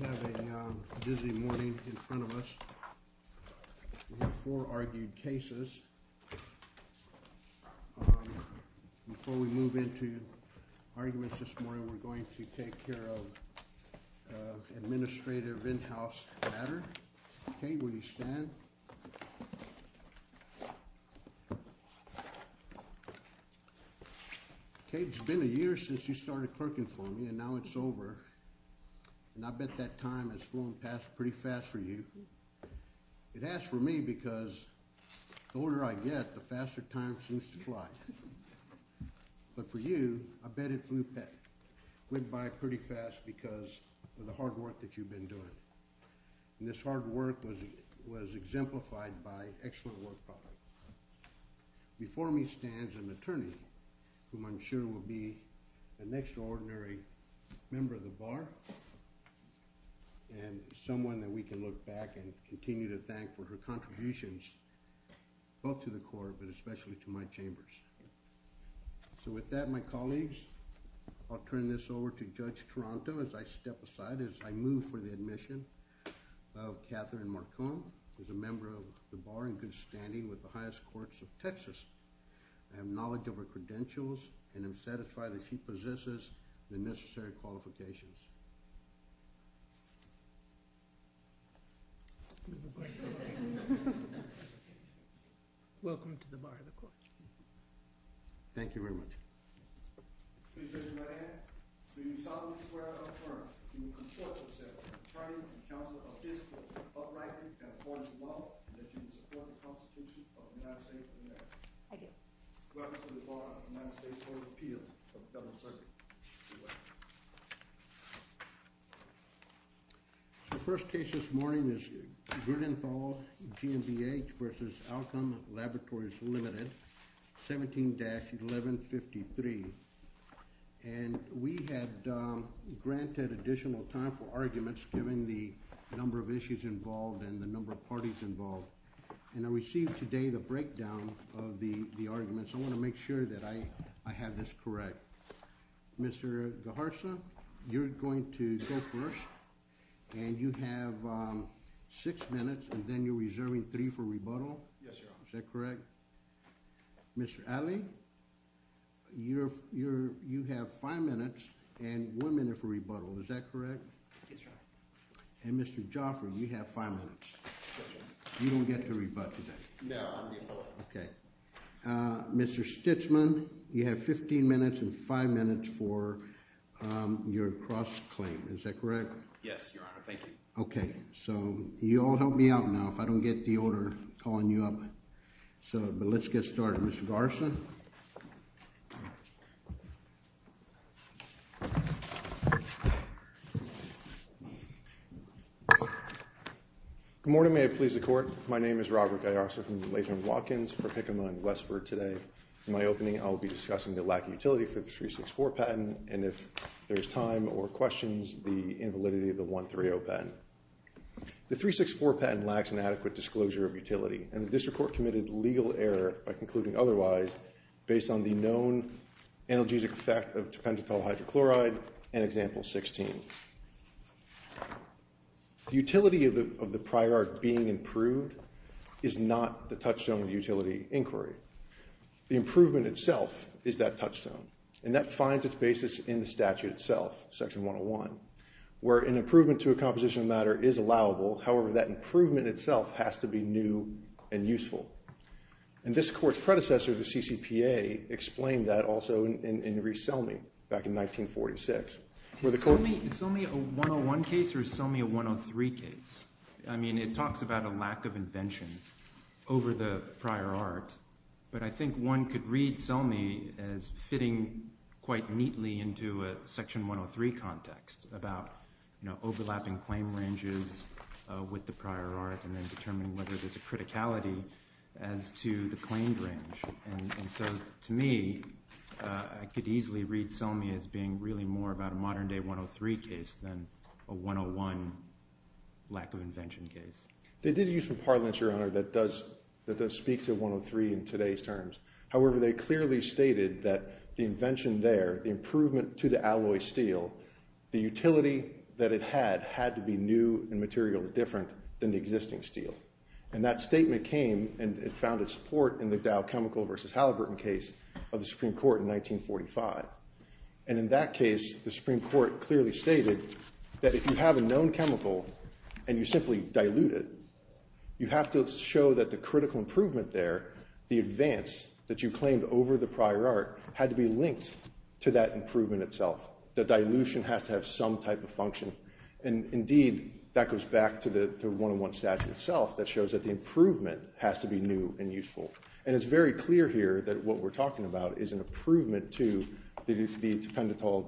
We have a busy morning in front of us. We have four argued cases. Before we move into arguments this morning, we're going to take care of administrative in-house matter. Kate, will you stand? Kate, it's been a year since you started clerking for me, and now it's over. And I bet that time has flown past pretty fast for you. It has for me because the older I get, the faster time seems to fly. But for you, I bet it flew by pretty fast because of the hard work that you've been doing. And this hard work was exemplified by excellent work. Before me stands an attorney, whom I'm sure will be an extraordinary member of the Bar. And someone that we can look back and continue to thank for her contributions, both to the Court, but especially to my chambers. So with that, my colleagues, I'll turn this over to Judge Taranto as I step aside, as I move for the admission of Catherine Marcon, who's a member of the Bar in good standing with the highest courts of Texas. I have knowledge of her credentials and am satisfied that she possesses the necessary qualifications. Welcome to the Bar of the Court. Thank you very much. Please raise your right hand. Do you solemnly swear or affirm that you will comport yourself as an attorney and counselor of this court, uprightly and according to law, and that you will support the Constitution of the United States of America? I do. Welcome to the Bar of the United States Court of Appeals. The first case this morning is Grudenfall, GMBH v. Alcom, Laboratories Limited, 17-1153. And we had granted additional time for arguments, given the number of issues involved and the number of parties involved. And I received today the breakdown of the arguments. I want to make sure that I have this correct. Mr. Gajarsa, you're going to go first, and you have six minutes, and then you're reserving three for rebuttal. Yes, Your Honor. Is that correct? Mr. Alley, you have five minutes and one minute for rebuttal. Is that correct? Yes, Your Honor. And Mr. Joffrey, you have five minutes. You don't get to rebut today. No, I'm rebutting. Okay. Mr. Stichman, you have 15 minutes and five minutes for your cross-claim. Is that correct? Yes, Your Honor. Thank you. Okay. So you all help me out now, if I don't get the order calling you up. But let's get started. Good morning. May it please the Court. My name is Robert Gajarsa from the Latham Watkins for Hickam and Westford today. In my opening, I'll be discussing the lack of utility for the 364 patent, and if there's time or questions, the invalidity of the 130 patent. The 364 patent lacks an adequate disclosure of utility, and the district court committed legal error by concluding otherwise based on the known analgesic effect of tripentatol hydrochloride and example 16. The utility of the prior art being improved is not the touchstone of the utility inquiry. The improvement itself is that touchstone, and that finds its basis in the statute itself, section 101, where an improvement to a composition of matter is allowable. However, that improvement itself has to be new and useful. And this Court's predecessor, the CCPA, explained that also in Reese Selmy back in 1946. Is Selmy a 101 case or is Selmy a 103 case? I mean, it talks about a lack of invention over the prior art, but I think one could read Selmy as fitting quite neatly into a section 103 context about, you know, overlapping claim ranges with the prior art and then determining whether there's a criticality as to the claimed range. And so to me, I could easily read Selmy as being really more about a modern day 103 case than a 101 lack of invention case. They did use some parlance, Your Honor, that does speak to 103 in today's terms. However, they clearly stated that the invention there, the improvement to the alloy steel, the utility that it had had to be new and materially different than the existing steel. And that statement came and it found its support in the Dow Chemical versus Halliburton case of the Supreme Court in 1945. And in that case, the Supreme Court clearly stated that if you have a known chemical and you simply dilute it, you have to show that the critical improvement there, the advance that you claimed over the prior art, had to be linked to that improvement itself. The dilution has to have some type of function. And indeed, that goes back to the 101 statute itself that shows that the improvement has to be new and useful. And it's very clear here that what we're talking about is an improvement to the dependetol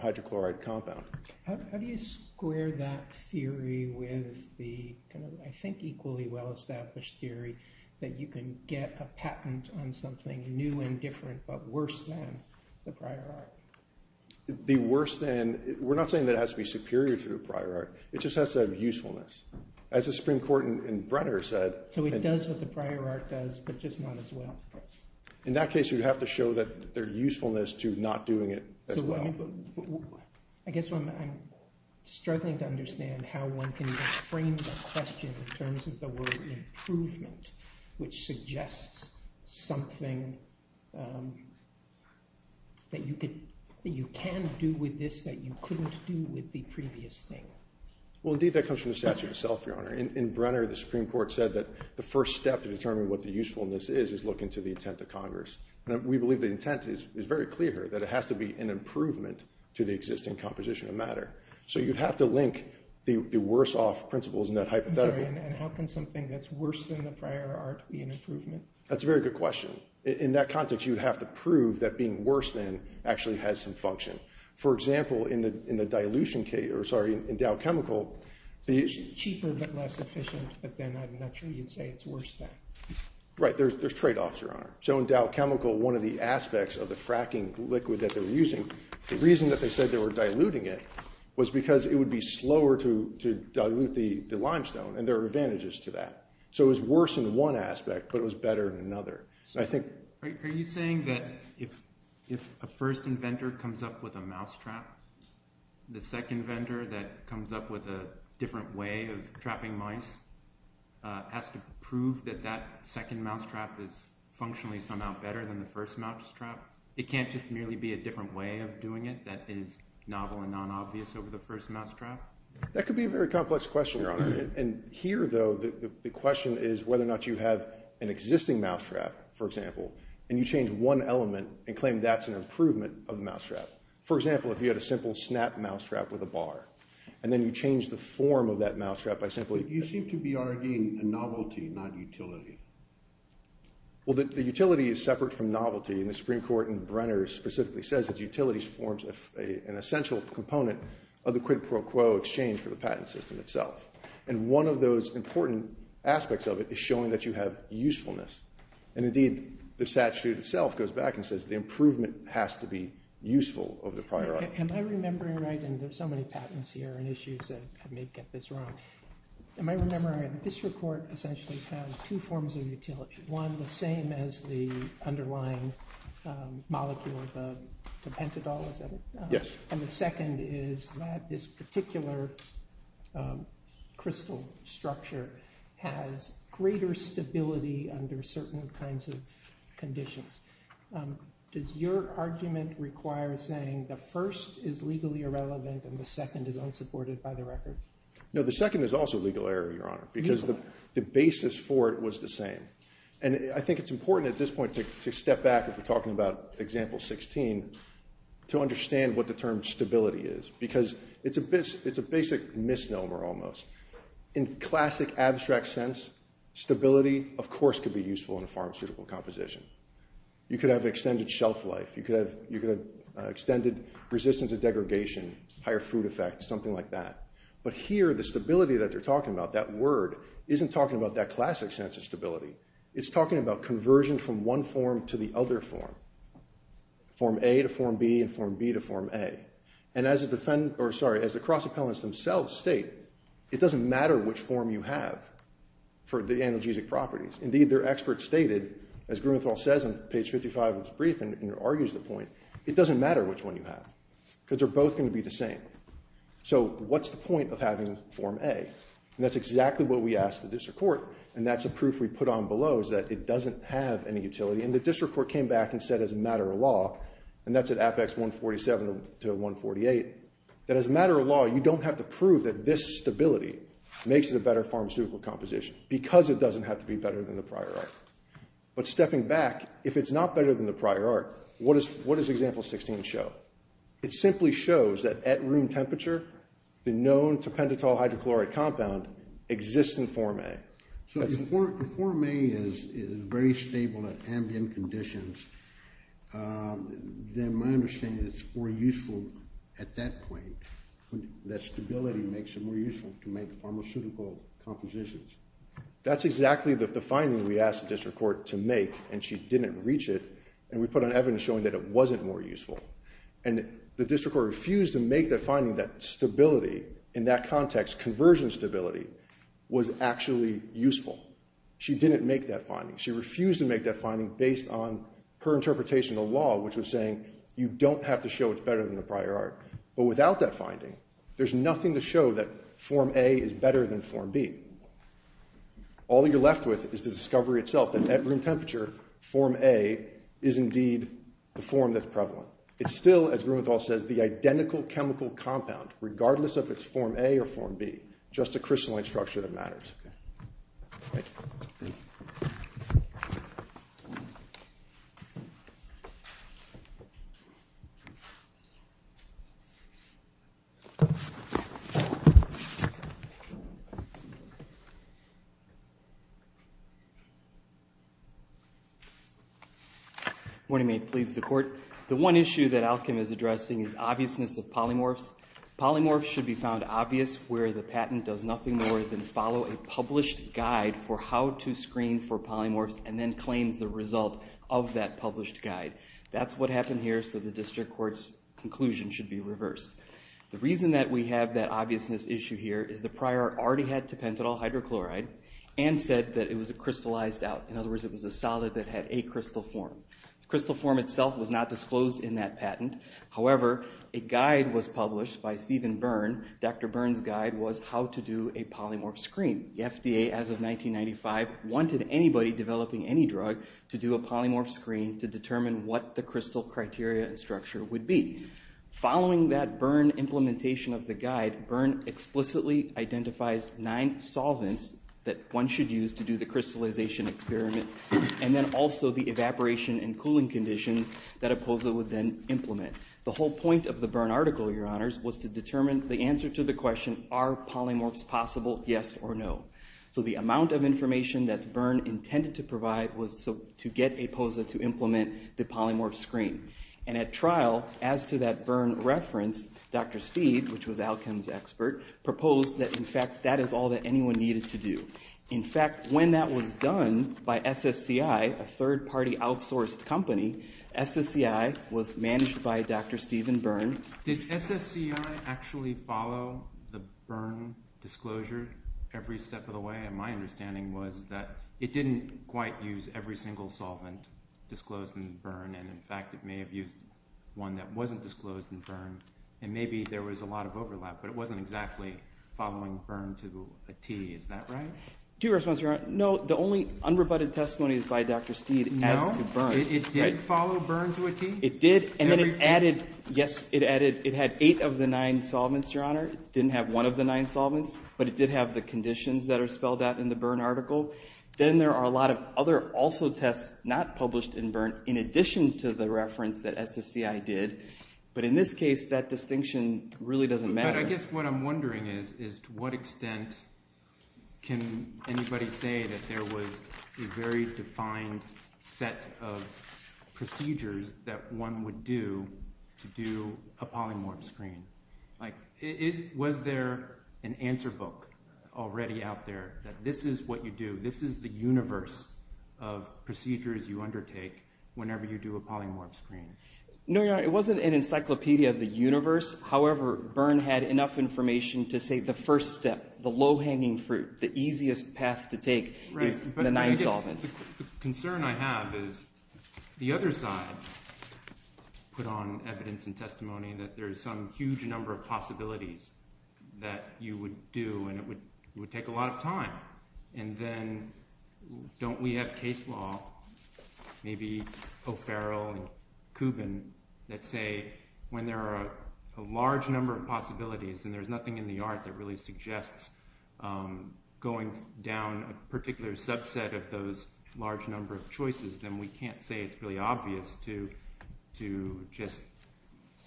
hydrochloride compound. How do you square that theory with the kind of, I think, equally well-established theory that you can get a patent on something new and different but worse than the prior art? We're not saying that it has to be superior to the prior art. It just has to have usefulness. As the Supreme Court in Brenner said— So it does what the prior art does, but just not as well. In that case, you'd have to show that there's usefulness to not doing it as well. I guess I'm struggling to understand how one can frame the question in terms of the word improvement, which suggests something that you can do with this that you couldn't do with the previous thing. Well, indeed, that comes from the statute itself, Your Honor. In Brenner, the Supreme Court said that the first step to determine what the usefulness is is look into the intent of Congress. We believe the intent is very clear here, that it has to be an improvement to the existing composition of matter. So you'd have to link the worse-off principles in that hypothetical. I'm sorry, and how can something that's worse than the prior art be an improvement? That's a very good question. In that context, you'd have to prove that being worse than actually has some function. For example, in the dilution case—or, sorry, in Dow Chemical— Cheaper but less efficient, but then I'm not sure you'd say it's worse than. Right. There's tradeoffs, Your Honor. So in Dow Chemical, one of the aspects of the fracking liquid that they were using, the reason that they said they were diluting it was because it would be slower to dilute the limestone, and there are advantages to that. So it was worse in one aspect, but it was better in another. Are you saying that if a first inventor comes up with a mousetrap, the second inventor that comes up with a different way of trapping mice has to prove that that second mousetrap is functionally somehow better than the first mousetrap? It can't just merely be a different way of doing it that is novel and non-obvious over the first mousetrap? That could be a very complex question, Your Honor. And here, though, the question is whether or not you have an existing mousetrap, for example, and you change one element and claim that's an improvement of the mousetrap. For example, if you had a simple snap mousetrap with a bar, and then you change the form of that mousetrap by simply— You seem to be arguing a novelty, not utility. Well, the utility is separate from novelty, and the Supreme Court in Brenner specifically says that utility forms an essential component of the quid pro quo exchange for the patent system itself. And one of those important aspects of it is showing that you have usefulness. And indeed, the statute itself goes back and says the improvement has to be useful over the prior item. Am I remembering right? And there are so many patents here and issues that may get this wrong. Am I remembering right? This report essentially found two forms of utility. One, the same as the underlying molecule, the pentadol, is that it? Yes. And the second is that this particular crystal structure has greater stability under certain kinds of conditions. Does your argument require saying the first is legally irrelevant and the second is unsupported by the record? No, the second is also a legal error, Your Honor, because the basis for it was the same. And I think it's important at this point to step back if we're talking about example 16 to understand what the term stability is because it's a basic misnomer almost. In classic abstract sense, stability, of course, could be useful in a pharmaceutical composition. You could have extended shelf life. You could have extended resistance to degradation, higher fruit effect, something like that. But here, the stability that they're talking about, that word, isn't talking about that classic sense of stability. It's talking about conversion from one form to the other form, form A to form B and form B to form A. And as the cross-appellants themselves state, it doesn't matter which form you have for the analgesic properties. Indeed, their experts stated, as Grumenthal says on page 55 of his brief and argues the point, it doesn't matter which one you have because they're both going to be the same. So what's the point of having form A? And that's exactly what we asked the district court. And that's a proof we put on below is that it doesn't have any utility. And the district court came back and said as a matter of law, and that's at Apex 147 to 148, that as a matter of law, you don't have to prove that this stability makes it a better pharmaceutical composition because it doesn't have to be better than the prior art. But stepping back, if it's not better than the prior art, what does example 16 show? It simply shows that at room temperature, the known to pentatol hydrochloric compound exists in form A. So if form A is very stable at ambient conditions, then my understanding is it's more useful at that point. That stability makes it more useful to make pharmaceutical compositions. That's exactly the finding we asked the district court to make, and she didn't reach it. And we put on evidence showing that it wasn't more useful. And the district court refused to make the finding that stability in that context, conversion stability, was actually useful. She didn't make that finding. She refused to make that finding based on her interpretation of the law, which was saying you don't have to show it's better than the prior art. But without that finding, there's nothing to show that form A is better than form B. All you're left with is the discovery itself that at room temperature, form A is indeed the form that's prevalent. It's still, as Grumenthal says, the identical chemical compound, regardless of if it's form A or form B, just a crystalline structure that matters. Morning, may it please the court. The one issue that Alkim is addressing is obviousness of polymorphs. Polymorphs should be found obvious where the patent does nothing more than follow a published guide for how to screen for polymorphs, and then claims the result of that published guide. That's what happened here, so the district court's conclusion should be reversed. The reason that we have that obviousness issue here is the prior art already had to pentadol hydrochloride and said that it was a crystallized out. In other words, it was a solid that had a crystal form. The crystal form itself was not disclosed in that patent. However, a guide was published by Stephen Byrne. Dr. Byrne's guide was how to do a polymorph screen. The FDA, as of 1995, wanted anybody developing any drug to do a polymorph screen to determine what the crystal criteria and structure would be. Following that Byrne implementation of the guide, Byrne explicitly identifies nine solvents that one should use to do the crystallization experiment, and then also the evaporation and cooling conditions that a POSA would then implement. The whole point of the Byrne article, Your Honors, was to determine the answer to the question, are polymorphs possible, yes or no? So the amount of information that Byrne intended to provide was to get a POSA to implement the polymorph screen. And at trial, as to that Byrne reference, Dr. Steed, which was Alchem's expert, proposed that, in fact, that is all that anyone needed to do. In fact, when that was done by SSCI, a third-party outsourced company, SSCI was managed by Dr. Stephen Byrne. Did SSCI actually follow the Byrne disclosure every step of the way? My understanding was that it didn't quite use every single solvent disclosed in Byrne, and, in fact, it may have used one that wasn't disclosed in Byrne, and maybe there was a lot of overlap, but it wasn't exactly following Byrne to a T. Is that right? To your response, Your Honor, no. The only unrebutted testimony is by Dr. Steed as to Byrne. No? It didn't follow Byrne to a T? It did, and then it added – yes, it added – it had eight of the nine solvents, Your Honor. It didn't have one of the nine solvents, but it did have the conditions that are spelled out in the Byrne article. Then there are a lot of other also tests not published in Byrne in addition to the reference that SSCI did. But in this case, that distinction really doesn't matter. But I guess what I'm wondering is to what extent can anybody say that there was a very defined set of procedures that one would do to do a polymorph screen? Like was there an answer book already out there that this is what you do, this is the universe of procedures you undertake whenever you do a polymorph screen? No, Your Honor, it wasn't an encyclopedia of the universe. However, Byrne had enough information to say the first step, the low-hanging fruit, the easiest path to take is the nine solvents. The concern I have is the other side put on evidence and testimony that there is some huge number of possibilities that you would do and it would take a lot of time. And then don't we have case law, maybe O'Farrell and Kubin, that say when there are a large number of possibilities and there's nothing in the art that really suggests going down a particular subset of those large number of choices, then we can't say it's really obvious to just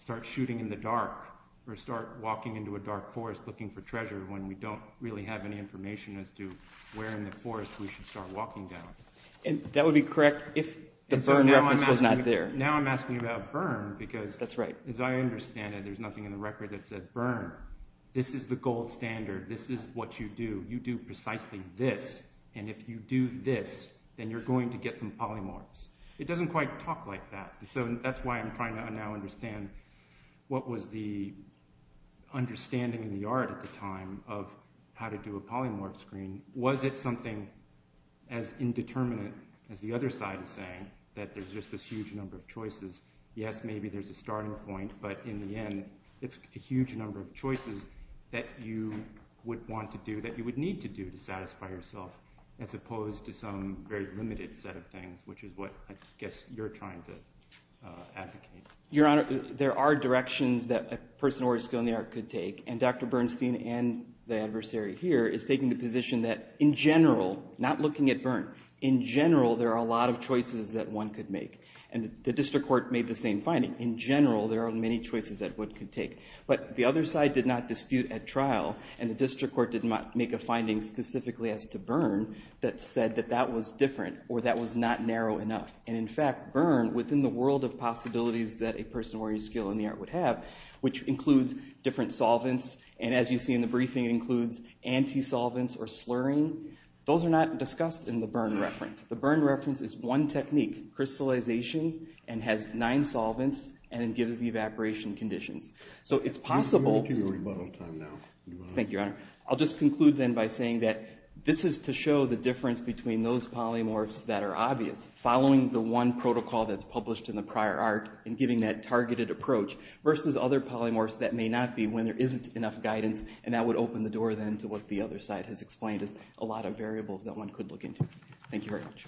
start shooting in the dark or start walking into a dark forest looking for treasure when we don't really have any information as to where in the forest we should start walking down. That would be correct if the Byrne reference was not there. Now I'm asking about Byrne because, as I understand it, there's nothing in the record that says, Byrne, this is the gold standard, this is what you do, you do precisely this, and if you do this, then you're going to get the polymorphs. It doesn't quite talk like that, so that's why I'm trying to now understand what was the understanding in the art at the time of how to do a polymorph screen. Was it something as indeterminate as the other side is saying, that there's just this huge number of choices? Yes, maybe there's a starting point, but in the end, it's a huge number of choices that you would want to do, that you would need to do to satisfy yourself, as opposed to some very limited set of things, which is what I guess you're trying to advocate. Your Honor, there are directions that a person already skilled in the art could take, and Dr. Bernstein and the adversary here is taking the position that, in general, not looking at Byrne, in general, there are a lot of choices that one could make, and the district court made the same finding. In general, there are many choices that one could take, but the other side did not dispute at trial, and the district court did not make a finding specifically as to Byrne that said that that was different, or that was not narrow enough. And in fact, Byrne, within the world of possibilities that a person already skilled in the art would have, which includes different solvents, and as you see in the briefing, it includes anti-solvents or slurring, those are not discussed in the Byrne reference. The Byrne reference is one technique, crystallization, and has nine solvents, and it gives the evaporation conditions. So it's possible... You're making a rebuttal time now. Thank you, Your Honor. I'll just conclude then by saying that this is to show the difference between those polymorphs that are obvious, following the one protocol that's published in the prior art, and giving that targeted approach, versus other polymorphs that may not be when there isn't enough guidance, and that would open the door then to what the other side has explained as a lot of variables that one could look into. Thank you very much.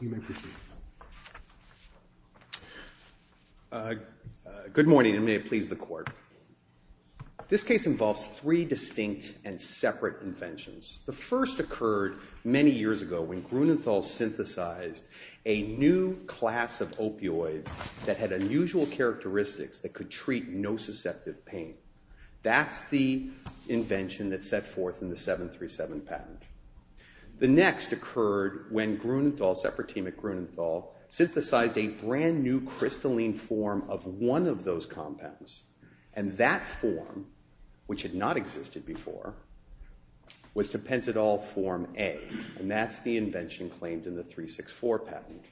You may proceed. Good morning, and may it please the Court. This case involves three distinct and separate inventions. The first occurred many years ago when Grunenthal synthesized a new class of opioids that had unusual characteristics that could treat nociceptive pain. That's the invention that set forth in the 737 patent. The next occurred when Grunenthal, a separate team at Grunenthal, synthesized a brand new crystalline form of one of those compounds, and that form, which had not existed before, was tepentadol form A, and that's the invention claimed in the 364 patent.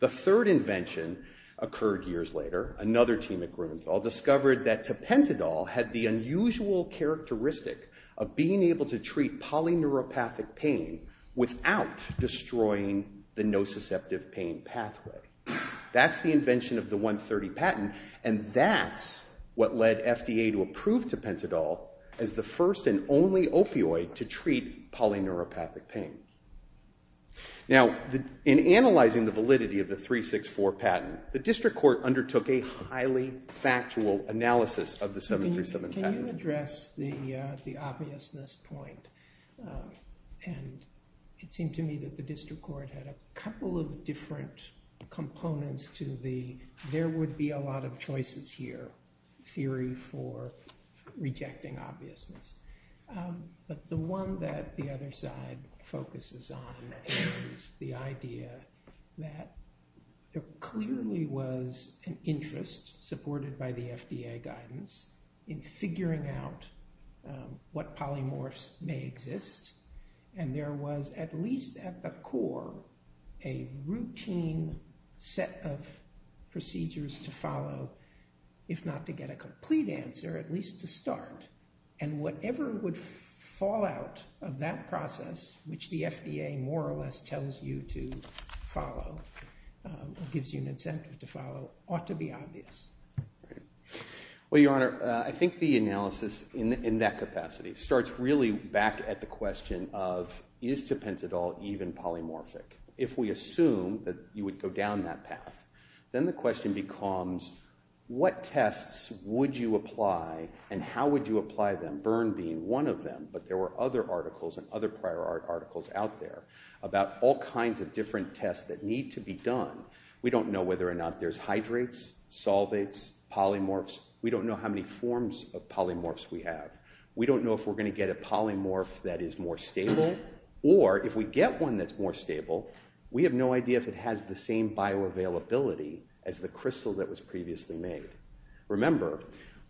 The third invention occurred years later. Another team at Grunenthal discovered that tepentadol had the unusual characteristic of being able to treat polyneuropathic pain without destroying the nociceptive pain pathway. That's the invention of the 130 patent, and that's what led FDA to approve tepentadol as the first and only opioid to treat polyneuropathic pain. Now, in analyzing the validity of the 364 patent, the district court undertook a highly factual analysis of the 737 patent. Can you address the obviousness point? It seemed to me that the district court had a couple of different components to the there would be a lot of choices here theory for rejecting obviousness. But the one that the other side focuses on is the idea that there clearly was an interest, supported by the FDA guidance, in figuring out what polymorphs may exist. And there was, at least at the core, a routine set of procedures to follow, if not to get a complete answer, at least to start. And whatever would fall out of that process, which the FDA more or less tells you to follow, gives you an incentive to follow, ought to be obvious. Well, Your Honor, I think the analysis in that capacity starts really back at the question of, is tepentadol even polymorphic? If we assume that you would go down that path, then the question becomes, what tests would you apply and how would you apply them, burn being one of them? But there were other articles and other prior articles out there about all kinds of different tests that need to be done. We don't know whether or not there's hydrates, solvates, polymorphs. We don't know how many forms of polymorphs we have. We don't know if we're going to get a polymorph that is more stable, or if we get one that's more stable, we have no idea if it has the same bioavailability as the crystal that was previously made. Remember,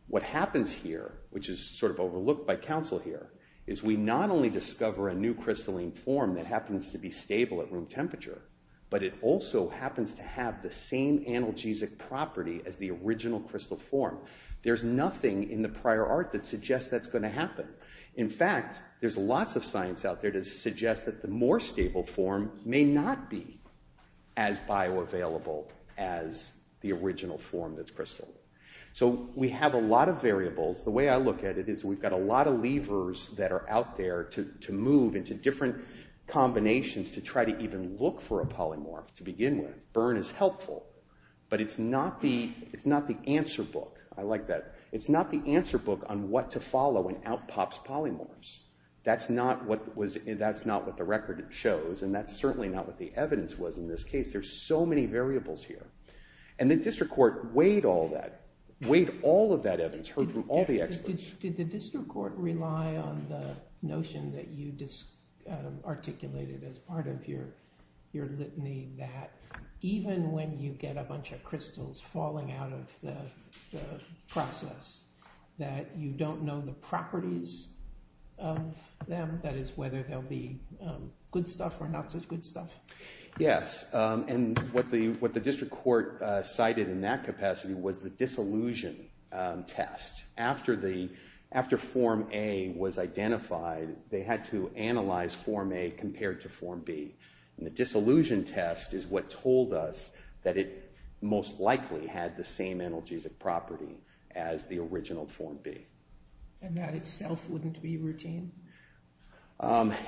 what happens here, which is sort of overlooked by counsel here, is we not only discover a new crystalline form that happens to be stable at room temperature, but it also happens to have the same analgesic property as the original crystal form. There's nothing in the prior art that suggests that's going to happen. In fact, there's lots of science out there that suggests that the more stable form may not be as bioavailable as the original form that's crystalline. So we have a lot of variables. The way I look at it is we've got a lot of levers that are out there to move into different combinations to try to even look for a polymorph to begin with. Burn is helpful, but it's not the answer book. I like that. It's not the answer book on what to follow when out pops polymorphs. That's not what the record shows, and that's certainly not what the evidence was in this case. There's so many variables here. And the district court weighed all of that evidence, heard from all the experts. Did the district court rely on the notion that you articulated as part of your litany that even when you get a bunch of crystals falling out of the process, that you don't know the properties of them, that is, whether they'll be good stuff or not such good stuff? Yes, and what the district court cited in that capacity was the disillusion test. After Form A was identified, they had to analyze Form A compared to Form B. And the disillusion test is what told us that it most likely had the same analgesic property as the original Form B. And that itself wouldn't be routine?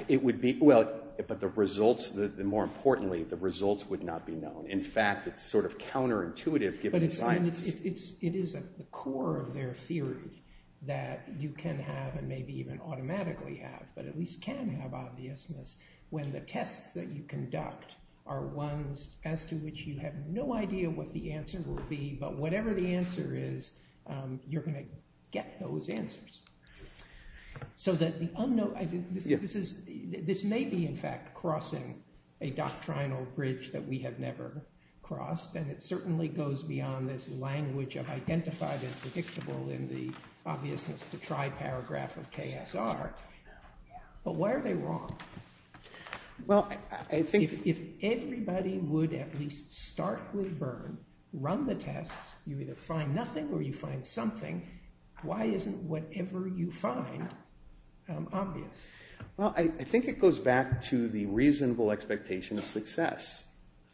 It would be, well, but the results, more importantly, the results would not be known. In fact, it's sort of counterintuitive given the science. Yeah, and it is at the core of their theory that you can have and maybe even automatically have, but at least can have obviousness when the tests that you conduct are ones as to which you have no idea what the answer will be, but whatever the answer is, you're going to get those answers. So the unknown, this may be, in fact, crossing a doctrinal bridge that we have never crossed, and it certainly goes beyond this language of identified and predictable in the obviousness-to-try paragraph of KSR, but why are they wrong? Well, I think— If everybody would at least starkly burn, run the tests, you either find nothing or you find something, why isn't whatever you find obvious? Well, I think it goes back to the reasonable expectation of success.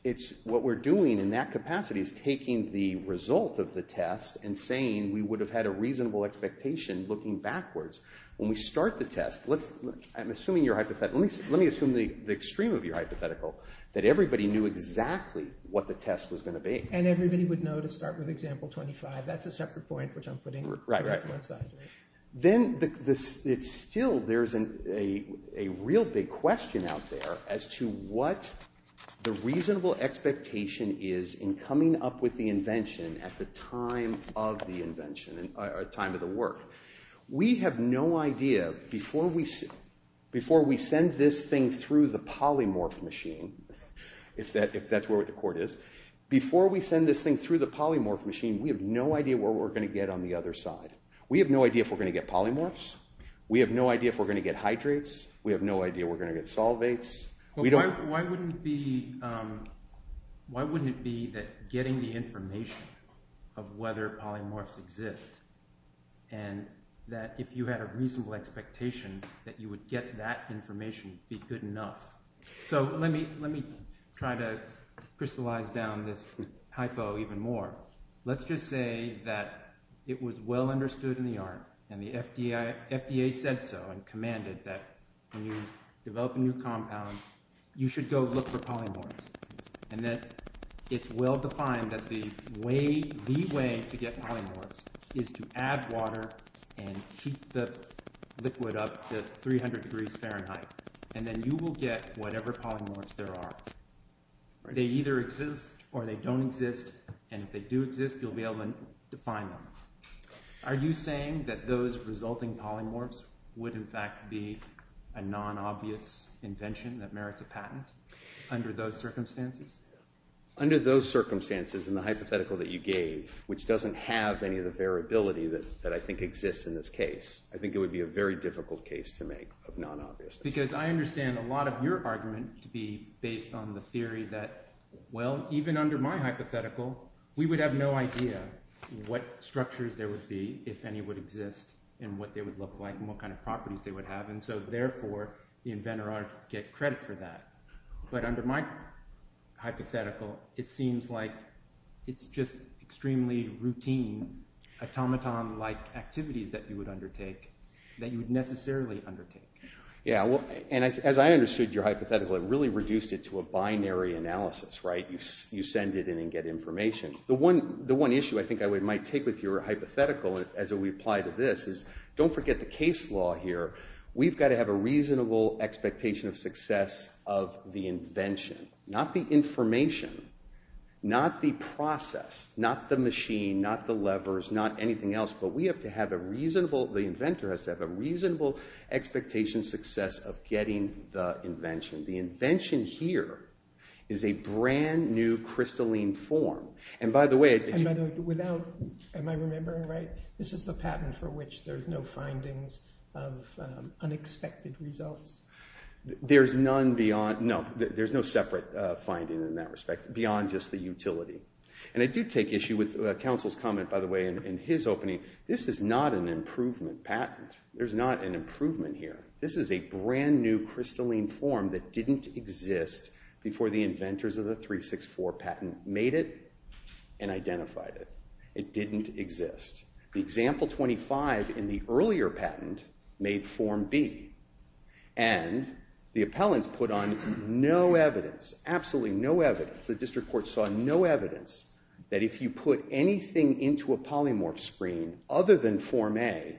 It's what we're doing in that capacity is taking the result of the test and saying we would have had a reasonable expectation looking backwards. When we start the test, let's—I'm assuming you're hypothetical. Let me assume the extreme of your hypothetical, that everybody knew exactly what the test was going to be. And everybody would know to start with example 25. That's a separate point, which I'm putting on one side. Then it's still there's a real big question out there as to what the reasonable expectation is in coming up with the invention at the time of the invention or time of the work. We have no idea before we send this thing through the polymorph machine, if that's what the court is, before we send this thing through the polymorph machine, we have no idea where we're going to get on the other side. We have no idea if we're going to get polymorphs. We have no idea if we're going to get hydrates. We have no idea we're going to get solvates. Why wouldn't it be that getting the information of whether polymorphs exist and that if you had a reasonable expectation that you would get that information would be good enough? So let me try to crystallize down this hypo even more. Let's just say that it was well understood in the art and the FDA said so and commanded that when you develop a new compound, you should go look for polymorphs. And that it's well defined that the way, the way to get polymorphs is to add water and keep the liquid up to 300 degrees Fahrenheit. And then you will get whatever polymorphs there are. They either exist or they don't exist. And if they do exist, you'll be able to define them. Are you saying that those resulting polymorphs would in fact be a non-obvious invention that merits a patent under those circumstances? Under those circumstances, in the hypothetical that you gave, which doesn't have any of the variability that I think exists in this case, I think it would be a very difficult case to make of non-obviousness. Because I understand a lot of your argument to be based on the theory that, well, even under my hypothetical, we would have no idea what structures there would be if any would exist and what they would look like and what kind of properties they would have. And so therefore, the inventor ought to get credit for that. But under my hypothetical, it seems like it's just extremely routine, automaton-like activities that you would undertake, that you would necessarily undertake. Yeah, and as I understood your hypothetical, it really reduced it to a binary analysis, right? You send it in and get information. The one issue I think I might take with your hypothetical as we apply to this is don't forget the case law here. We've got to have a reasonable expectation of success of the invention, not the information, not the process, not the machine, not the levers, not anything else. The inventor has to have a reasonable expectation success of getting the invention. The invention here is a brand-new crystalline form. And by the way— And by the way, without—am I remembering right? This is the patent for which there's no findings of unexpected results. There's none beyond—no, there's no separate finding in that respect beyond just the utility. And I do take issue with counsel's comment, by the way, in his opening. This is not an improvement patent. There's not an improvement here. This is a brand-new crystalline form that didn't exist before the inventors of the 364 patent made it and identified it. It didn't exist. The example 25 in the earlier patent made form B. And the appellants put on no evidence, absolutely no evidence. The district court saw no evidence that if you put anything into a polymorph screen other than form A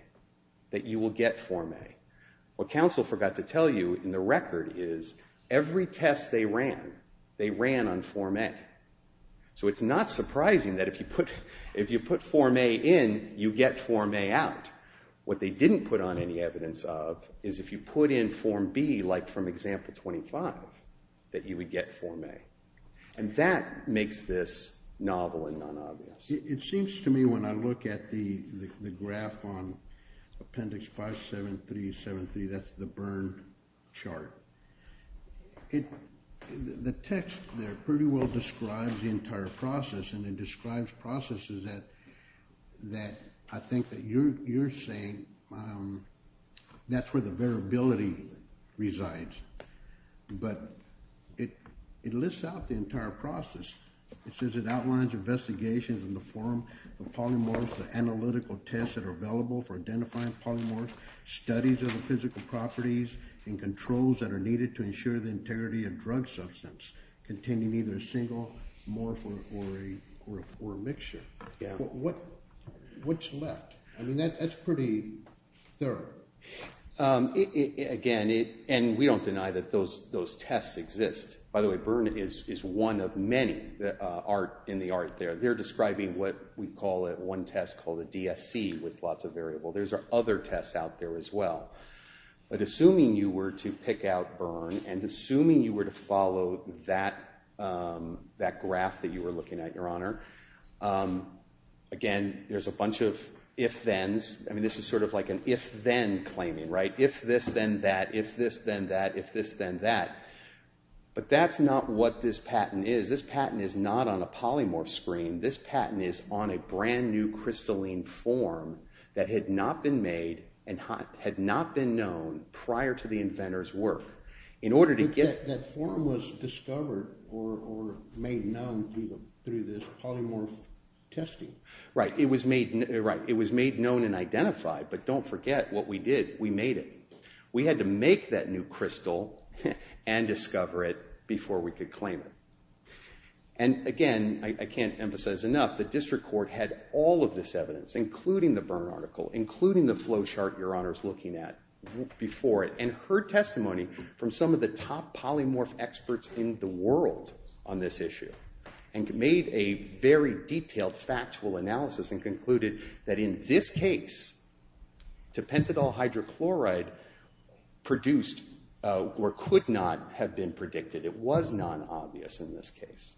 that you will get form A. What counsel forgot to tell you in the record is every test they ran, they ran on form A. So it's not surprising that if you put form A in, you get form A out. What they didn't put on any evidence of is if you put in form B, like from example 25, that you would get form A. And that makes this novel and non-obvious. It seems to me when I look at the graph on appendix 57373, that's the burn chart. The text there pretty well describes the entire process, and it describes processes that I think that you're saying that's where the variability resides. But it lists out the entire process. It says it outlines investigations in the form of polymorphs, the analytical tests that are available for identifying polymorphs, studies of the physical properties and controls that are needed to ensure the integrity of drug substance containing either a single morph or a mixture. What's left? I mean, that's pretty thorough. Again, and we don't deny that those tests exist. By the way, burn is one of many in the art there. They're describing what we call at one test called a DSC with lots of variable. There's other tests out there as well. But assuming you were to pick out burn and assuming you were to follow that graph that you were looking at, Your Honor, again, there's a bunch of if-thens. I mean, this is sort of like an if-then claiming, right? If this, then that. If this, then that. If this, then that. But that's not what this patent is. This patent is not on a polymorph screen. This patent is on a brand new crystalline form that had not been made and had not been known prior to the inventor's work. That form was discovered or made known through this polymorph testing. Right. It was made known and identified. But don't forget what we did. We made it. We had to make that new crystal and discover it before we could claim it. And again, I can't emphasize enough, the district court had all of this evidence, including the burn article, including the flow chart Your Honor's looking at before it, and heard testimony from some of the top polymorph experts in the world on this issue, and made a very detailed factual analysis and concluded that in this case, pentadole hydrochloride produced or could not have been predicted. It was non-obvious in this case.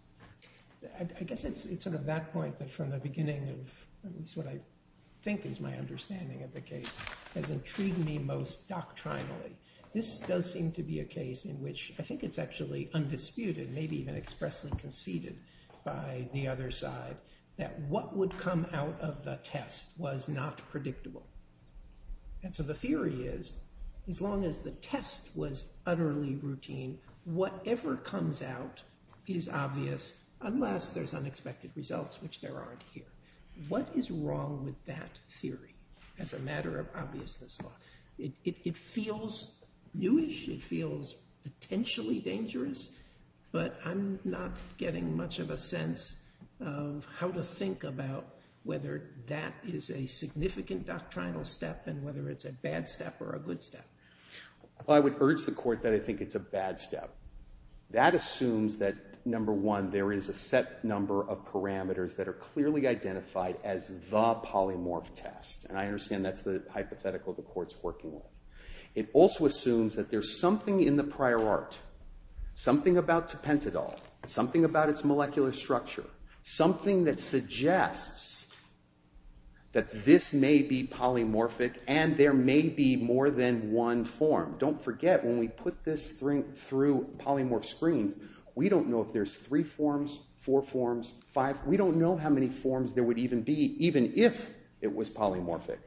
I guess it's sort of that point that from the beginning of what I think is my understanding of the case has intrigued me most doctrinally. This does seem to be a case in which I think it's actually undisputed, maybe even expressly conceded by the other side, that what would come out of the test was not predictable. And so the theory is, as long as the test was utterly routine, whatever comes out is obvious, unless there's unexpected results, which there aren't here. What is wrong with that theory as a matter of obviousness law? It feels newish. It feels potentially dangerous. But I'm not getting much of a sense of how to think about whether that is a significant doctrinal step and whether it's a bad step or a good step. I would urge the court that I think it's a bad step. That assumes that, number one, there is a set number of parameters that are clearly identified as the polymorph test. And I understand that's the hypothetical the court's working with. It also assumes that there's something in the prior art, something about Tepentadol, something about its molecular structure, something that suggests that this may be polymorphic and there may be more than one form. Don't forget, when we put this through polymorph screens, we don't know if there's three forms, four forms, five. We don't know how many forms there would even be, even if it was polymorphic.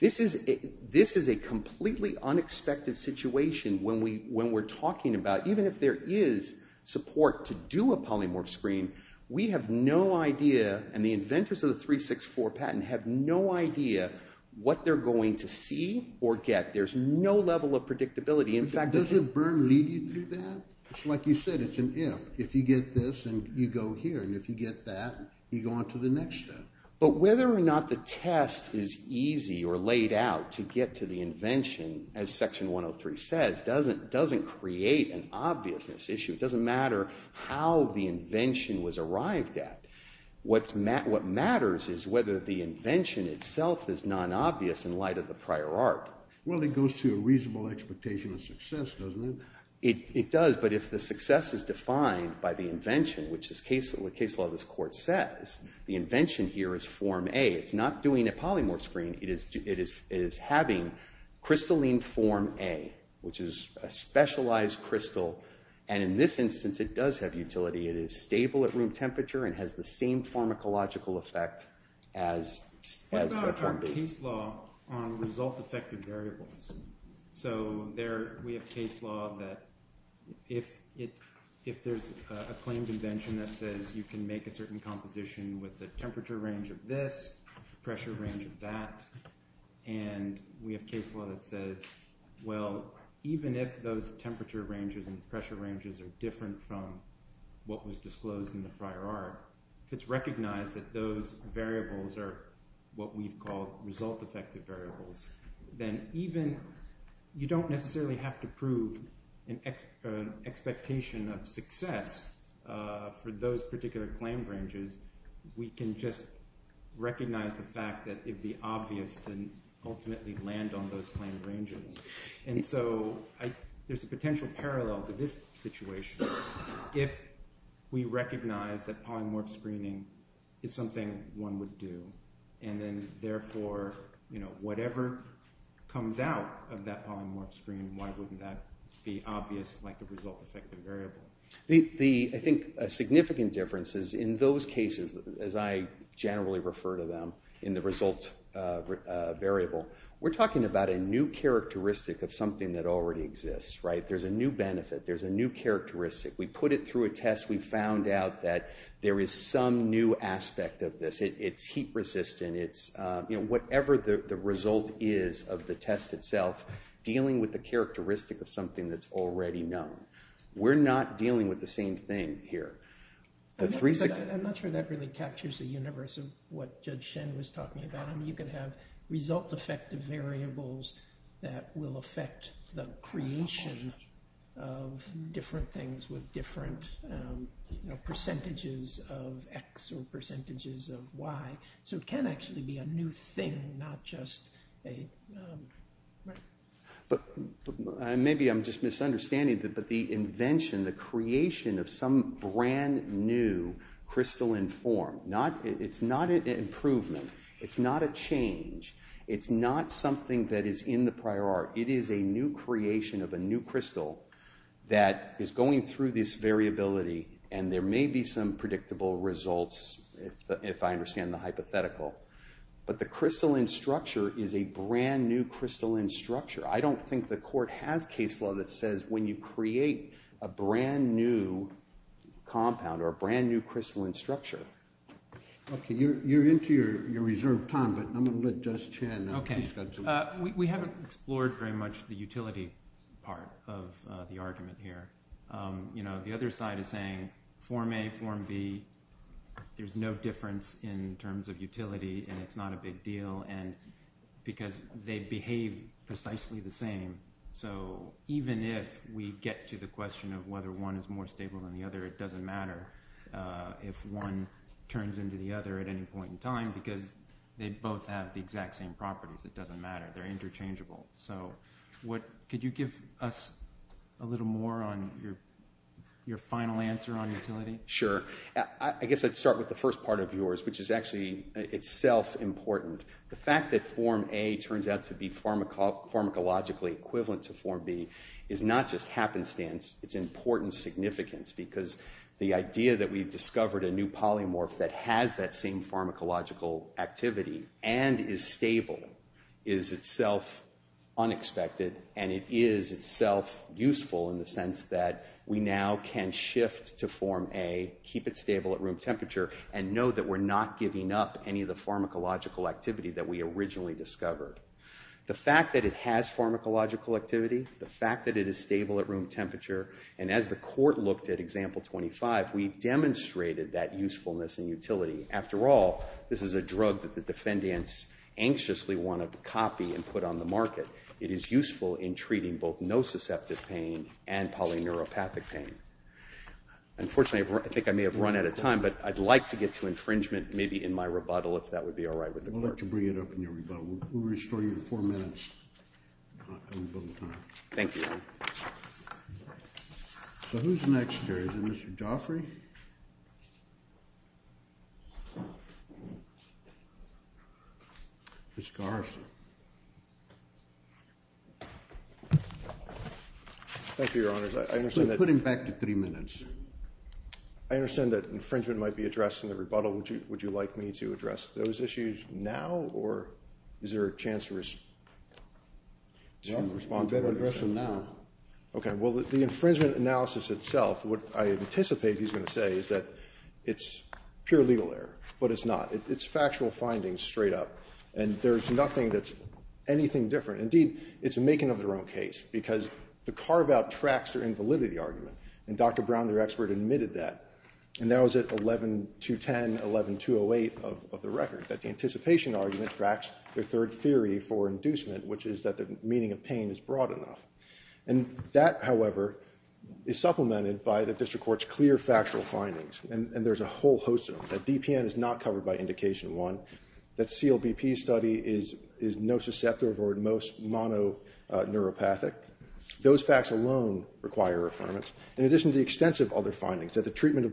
This is a completely unexpected situation when we're talking about, even if there is support to do a polymorph screen, we have no idea and the inventors of the 364 patent have no idea what they're going to see or get. There's no level of predictability. In fact, does it lead you through that? It's like you said, it's an if. If you get this and you go here, and if you get that, you go on to the next step. But whether or not the test is easy or laid out to get to the invention, as Section 103 says, doesn't create an obviousness issue. It doesn't matter how the invention was arrived at. What matters is whether the invention itself is non-obvious in light of the prior art. Well, it goes to a reasonable expectation of success, doesn't it? It does, but if the success is defined by the invention, which the case law of this court says, the invention here is form A. It's not doing a polymorph screen. It is having crystalline form A, which is a specialized crystal. And in this instance, it does have utility. It is stable at room temperature and has the same pharmacological effect as Section B. What about our case law on result-effective variables? So we have case law that if there's a claimed invention that says you can make a certain composition with a temperature range of this, pressure range of that, and we have case law that says, well, even if those temperature ranges and pressure ranges are different from what was disclosed in the prior art, if it's recognized that those variables are what we've called result-effective variables, then even you don't necessarily have to prove an expectation of success for those particular claimed ranges. We can just recognize the fact that it would be obvious to ultimately land on those claimed ranges. And so there's a potential parallel to this situation. If we recognize that polymorph screening is something one would do and then therefore whatever comes out of that polymorph screen, why wouldn't that be obvious like a result-effective variable? I think a significant difference is in those cases, as I generally refer to them in the result variable, we're talking about a new characteristic of something that already exists, right? There's a new benefit. There's a new characteristic. We put it through a test. We found out that there is some new aspect of this. It's heat-resistant. It's whatever the result is of the test itself dealing with the characteristic of something that's already known. We're not dealing with the same thing here. I'm not sure that really captures the universe of what Judge Shen was talking about. You can have result-effective variables that will affect the creation of different things with different percentages of X or percentages of Y. So it can actually be a new thing, not just a… Maybe I'm just misunderstanding, but the invention, the creation of some brand new crystalline form, it's not an improvement. It's not a change. It's not something that is in the prior art. It is a new creation of a new crystal that is going through this variability, and there may be some predictable results if I understand the hypothetical. But the crystalline structure is a brand new crystalline structure. I don't think the court has case law that says when you create a brand new compound or a brand new crystalline structure… Okay, you're into your reserved time, but I'm going to let Judge Shen… Okay, we haven't explored very much the utility part of the argument here. The other side is saying form A, form B, there's no difference in terms of utility, and it's not a big deal because they behave precisely the same. So even if we get to the question of whether one is more stable than the other, it doesn't matter if one turns into the other at any point in time because they both have the exact same properties. It doesn't matter. They're interchangeable. Could you give us a little more on your final answer on utility? Sure. I guess I'd start with the first part of yours, which is actually itself important. The fact that form A turns out to be pharmacologically equivalent to form B is not just happenstance. It's important significance because the idea that we've discovered a new polymorph that has that same pharmacological activity and is stable is itself unexpected, and it is itself useful in the sense that we now can shift to form A, keep it stable at room temperature, and know that we're not giving up any of the pharmacological activity that we originally discovered. The fact that it has pharmacological activity, the fact that it is stable at room temperature, and as the court looked at example 25, we demonstrated that usefulness and utility. After all, this is a drug that the defendants anxiously want to copy and put on the market. It is useful in treating both nociceptive pain and polyneuropathic pain. Unfortunately, I think I may have run out of time, but I'd like to get to infringement maybe in my rebuttal if that would be all right with the court. I'd like to bring it up in your rebuttal. We'll restore you to four minutes on rebuttal time. Thank you, Your Honor. So who's next here? Is it Mr. Daufrey? Ms. Garrison. Thank you, Your Honors. I understand that— Put him back to three minutes. I understand that infringement might be addressed in the rebuttal. Would you like me to address those issues now, or is there a chance to respond? You better address them now. Okay. Well, the infringement analysis itself, what I anticipate he's going to say is that it's pure legal error, but it's not. It's factual findings straight up, and there's nothing that's anything different. Indeed, it's a making of their own case because the carve-out tracks their invalidity argument, and Dr. Brown, their expert, admitted that. And that was at 11.210, 11.208 of the record, that the anticipation argument tracks their third theory for inducement, which is that the meaning of pain is broad enough. And that, however, is supplemented by the district court's clear factual findings, and there's a whole host of them, that DPN is not covered by Indication 1, that CLBP's study is nociceptive or at most mononeuropathic. Those facts alone require affirmance. In addition to the extensive other findings, that the treatment of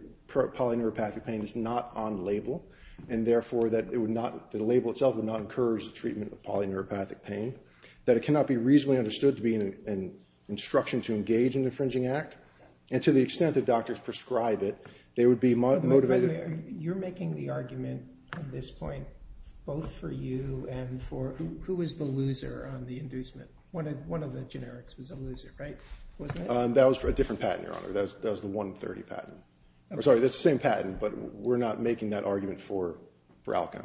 polyneuropathic pain is not on label, and therefore that the label itself would not encourage the treatment of polyneuropathic pain, that it cannot be reasonably understood to be an instruction to engage in an infringing act, and to the extent that doctors prescribe it, they would be motivated. By the way, you're making the argument at this point both for you and for – who was the loser on the inducement? One of the generics was a loser, right? That was for a different patent, Your Honor. That was the 130 patent. I'm sorry, that's the same patent, but we're not making that argument for ALCO.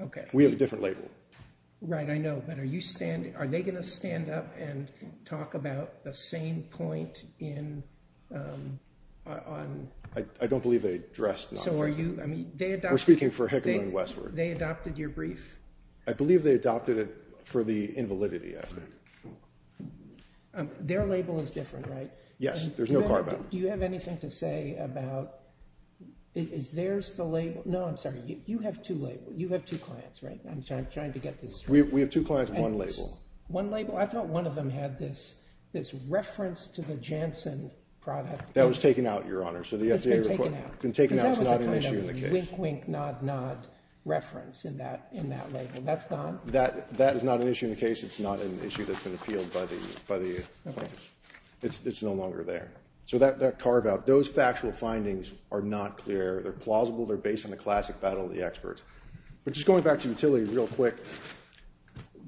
Okay. We have a different label. Right, I know, but are you – are they going to stand up and talk about the same point in – on – I don't believe they addressed – So are you – I mean, they adopted – We're speaking for Hickman and Westward. They adopted your brief? I believe they adopted it for the invalidity, I think. Their label is different, right? Yes, there's no carbide. Do you have anything to say about – is theirs the label – no, I'm sorry, you have two labels. You have two clients, right? I'm trying to get this straight. We have two clients, one label. One label? I thought one of them had this reference to the Janssen product. That was taken out, Your Honor. It's been taken out. It's been taken out. It's not an issue in the case. Because that was a kind of wink-wink, nod-nod reference in that label. That's gone? That is not an issue in the case. It's not an issue that's been appealed by the plaintiffs. Okay. It's no longer there. So that carve-out, those factual findings are not clear. They're plausible. They're based on the classic battle of the experts. But just going back to utility real quick,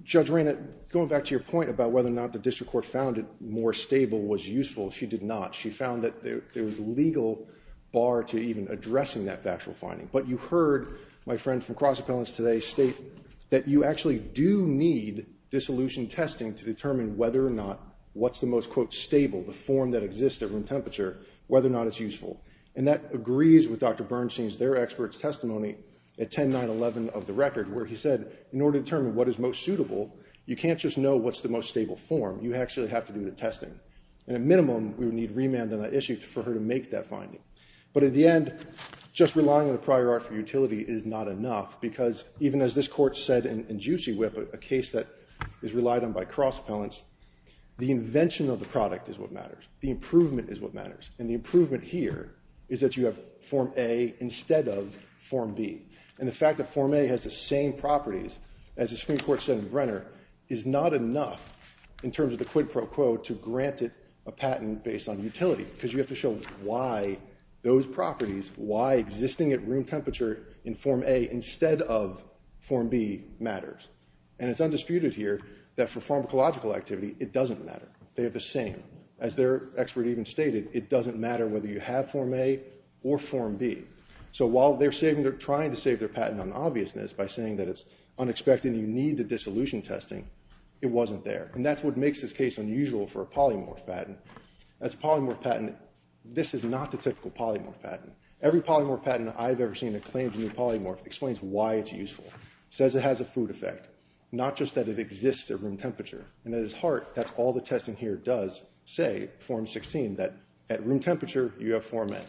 Judge Reinert, going back to your point about whether or not the district court found it more stable was useful. She did not. She found that there was a legal bar to even addressing that factual finding. But you heard my friend from Cross Appellants today state that you actually do need dissolution testing to determine whether or not what's the most, quote, stable, the form that exists at room temperature, whether or not it's useful. And that agrees with Dr. Bernstein's, their expert's testimony at 10-9-11 of the record where he said in order to determine what is most suitable, you can't just know what's the most stable form. You actually have to do the testing. And at minimum, we would need remand on that issue for her to make that finding. But at the end, just relying on the prior art for utility is not enough because even as this Court said in Juicy Whip, a case that is relied on by Cross Appellants, the invention of the product is what matters. The improvement is what matters. And the improvement here is that you have Form A instead of Form B. And the fact that Form A has the same properties as the Supreme Court said in granted a patent based on utility because you have to show why those properties, why existing at room temperature in Form A instead of Form B matters. And it's undisputed here that for pharmacological activity, it doesn't matter. They have the same. As their expert even stated, it doesn't matter whether you have Form A or Form B. So while they're trying to save their patent on obviousness by saying that it's unexpected and you need the dissolution testing, it wasn't there. And that's what makes this case unusual for a polymorph patent. As a polymorph patent, this is not the typical polymorph patent. Every polymorph patent I've ever seen that claims a new polymorph explains why it's useful, says it has a food effect, not just that it exists at room temperature. And at its heart, that's all the testing here does say, Form 16, that at room temperature, you have Form A.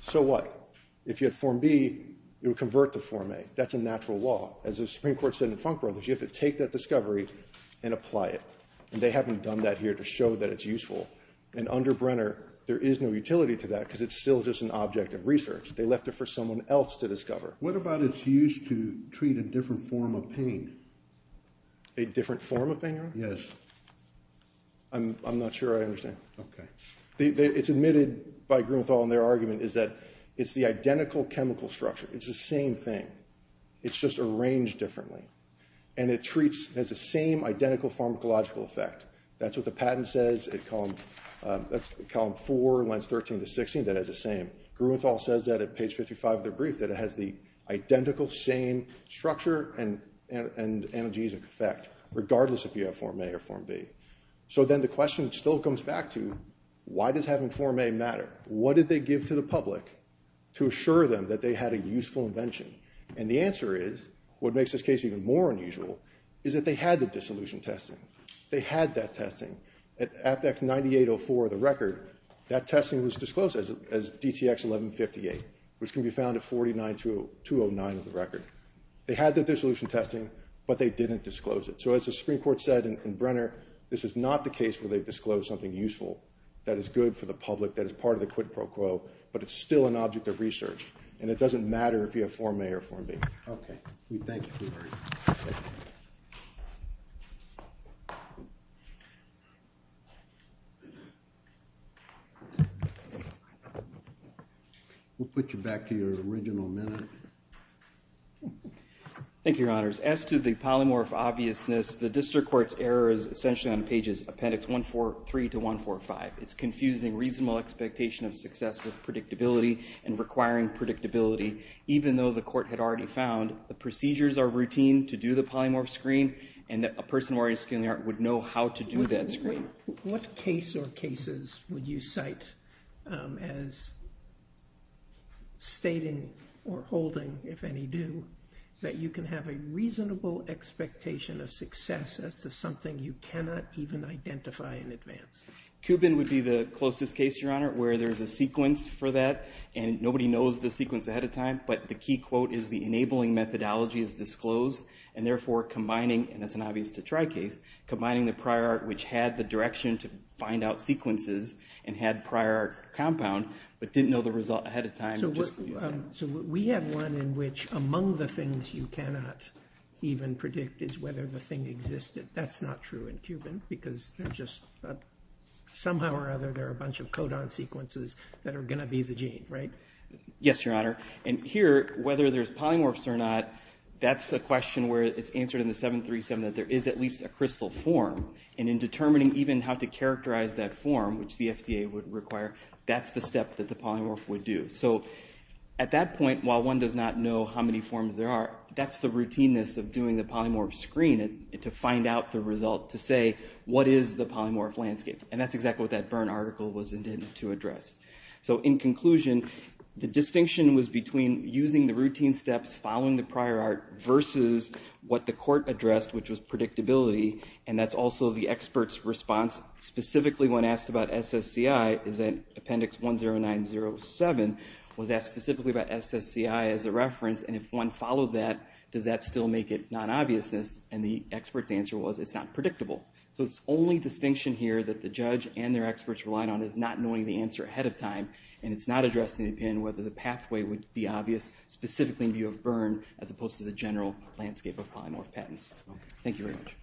So what? If you had Form B, it would convert to Form A. That's a natural law. As the Supreme Court said in Funk Brothers, you have to take that discovery and apply it. And they haven't done that here to show that it's useful. And under Brenner, there is no utility to that because it's still just an object of research. They left it for someone else to discover. What about it's used to treat a different form of pain? A different form of pain, Your Honor? Yes. I'm not sure I understand. Okay. It's admitted by Grumethal in their argument is that it's the identical chemical structure. It's the same thing. It's just arranged differently. And it has the same identical pharmacological effect. That's what the patent says at column 4, lines 13 to 16, that it has the same. Grumethal says that at page 55 of their brief, that it has the identical same structure and analgesic effect, regardless if you have Form A or Form B. So then the question still comes back to, why does having Form A matter? What did they give to the public to assure them that they had a useful invention? And the answer is, what makes this case even more unusual, is that they had the dissolution testing. They had that testing. At Apex 9804 of the record, that testing was disclosed as DTX 1158, which can be found at 49209 of the record. They had the dissolution testing, but they didn't disclose it. So as the Supreme Court said in Brenner, this is not the case where they've disclosed something useful that is good for the public, that is part of the quid pro quo, but it's still an object of research. And it doesn't matter if you have Form A or Form B. Okay. Thank you. We'll put you back to your original minute. Thank you, Your Honors. As to the polymorph obviousness, the district court's error is essentially on pages Appendix 143 to 145. It's confusing reasonable expectation of success with predictability and requiring predictability, even though the court had already found the procedures are routine to do the polymorph screen and that a person who already has skin in the air would know how to do that screen. What case or cases would you cite as stating or holding, if any, do, that you can have a reasonable expectation of success as to something you cannot even identify in advance? Cuban would be the closest case, Your Honor, where there's a sequence for that and nobody knows the sequence ahead of time, but the key quote is the enabling methodology is disclosed and therefore combining, and that's an obvious to try case, combining the prior art which had the direction to find out sequences and had prior compound, but didn't know the result ahead of time. So we have one in which among the things you cannot even predict is whether the thing existed. That's not true in Cuban because somehow or other there are a bunch of codon sequences that are going to be the gene, right? Yes, Your Honor, and here, whether there's polymorphs or not, that's a question where it's answered in the 737 that there is at least a crystal form and in determining even how to characterize that form, which the FDA would require, that's the step that the polymorph would do. So at that point, while one does not know how many forms there are, that's the routineness of doing the polymorph screen to find out the result to say what is the polymorph landscape, and that's exactly what that Berne article was intended to address. So in conclusion, the distinction was between using the routine steps following the prior art versus what the court addressed, which was predictability, and that's also the expert's response specifically when asked about SSCI is that Appendix 10907 was asked specifically about SSCI as a reference, and if one followed that, does that still make it non-obviousness? And the expert's answer was it's not predictable. So the only distinction here that the judge and their experts relied on is not knowing the answer ahead of time, and it's not addressed in the opinion whether the pathway would be obvious specifically in view of Berne as opposed to the general landscape of polymorph patents. Thank you very much.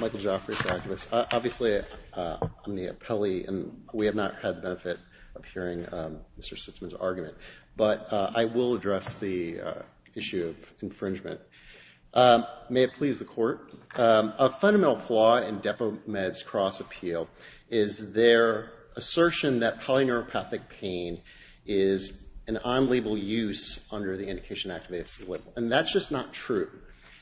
Michael Joffrey for activists. Obviously, I'm the appellee, and we have not had the benefit of hearing Mr. Sitzman's argument, but I will address the issue of infringement. May it please the court, a fundamental flaw in DepoMed's cross-appeal is their assertion that polyneuropathic pain is an unlabeled use under the Indication Act of AFC-Little, and that's just not true.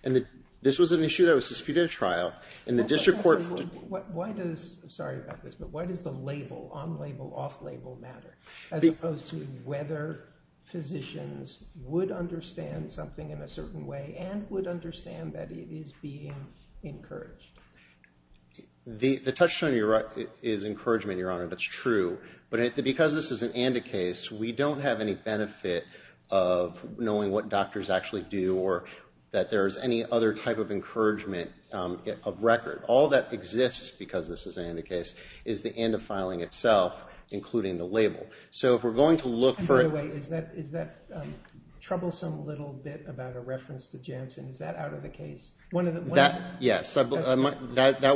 And this was an issue that was disputed at trial, and the district court... I'm sorry about this, but why does the label, on-label, off-label matter as opposed to whether physicians would understand something in a certain way and would understand that it is being encouraged? The touchstone is encouragement, Your Honor, that's true, but because this is an ANDA case, we don't have any benefit of knowing what doctors actually do or that there's any other type of encouragement of record. All that exists, because this is an ANDA case, is the ANDA filing itself, including the label. So if we're going to look for... By the way, is that troublesome little bit about a reference to Janssen, is that out of the case? Yes, that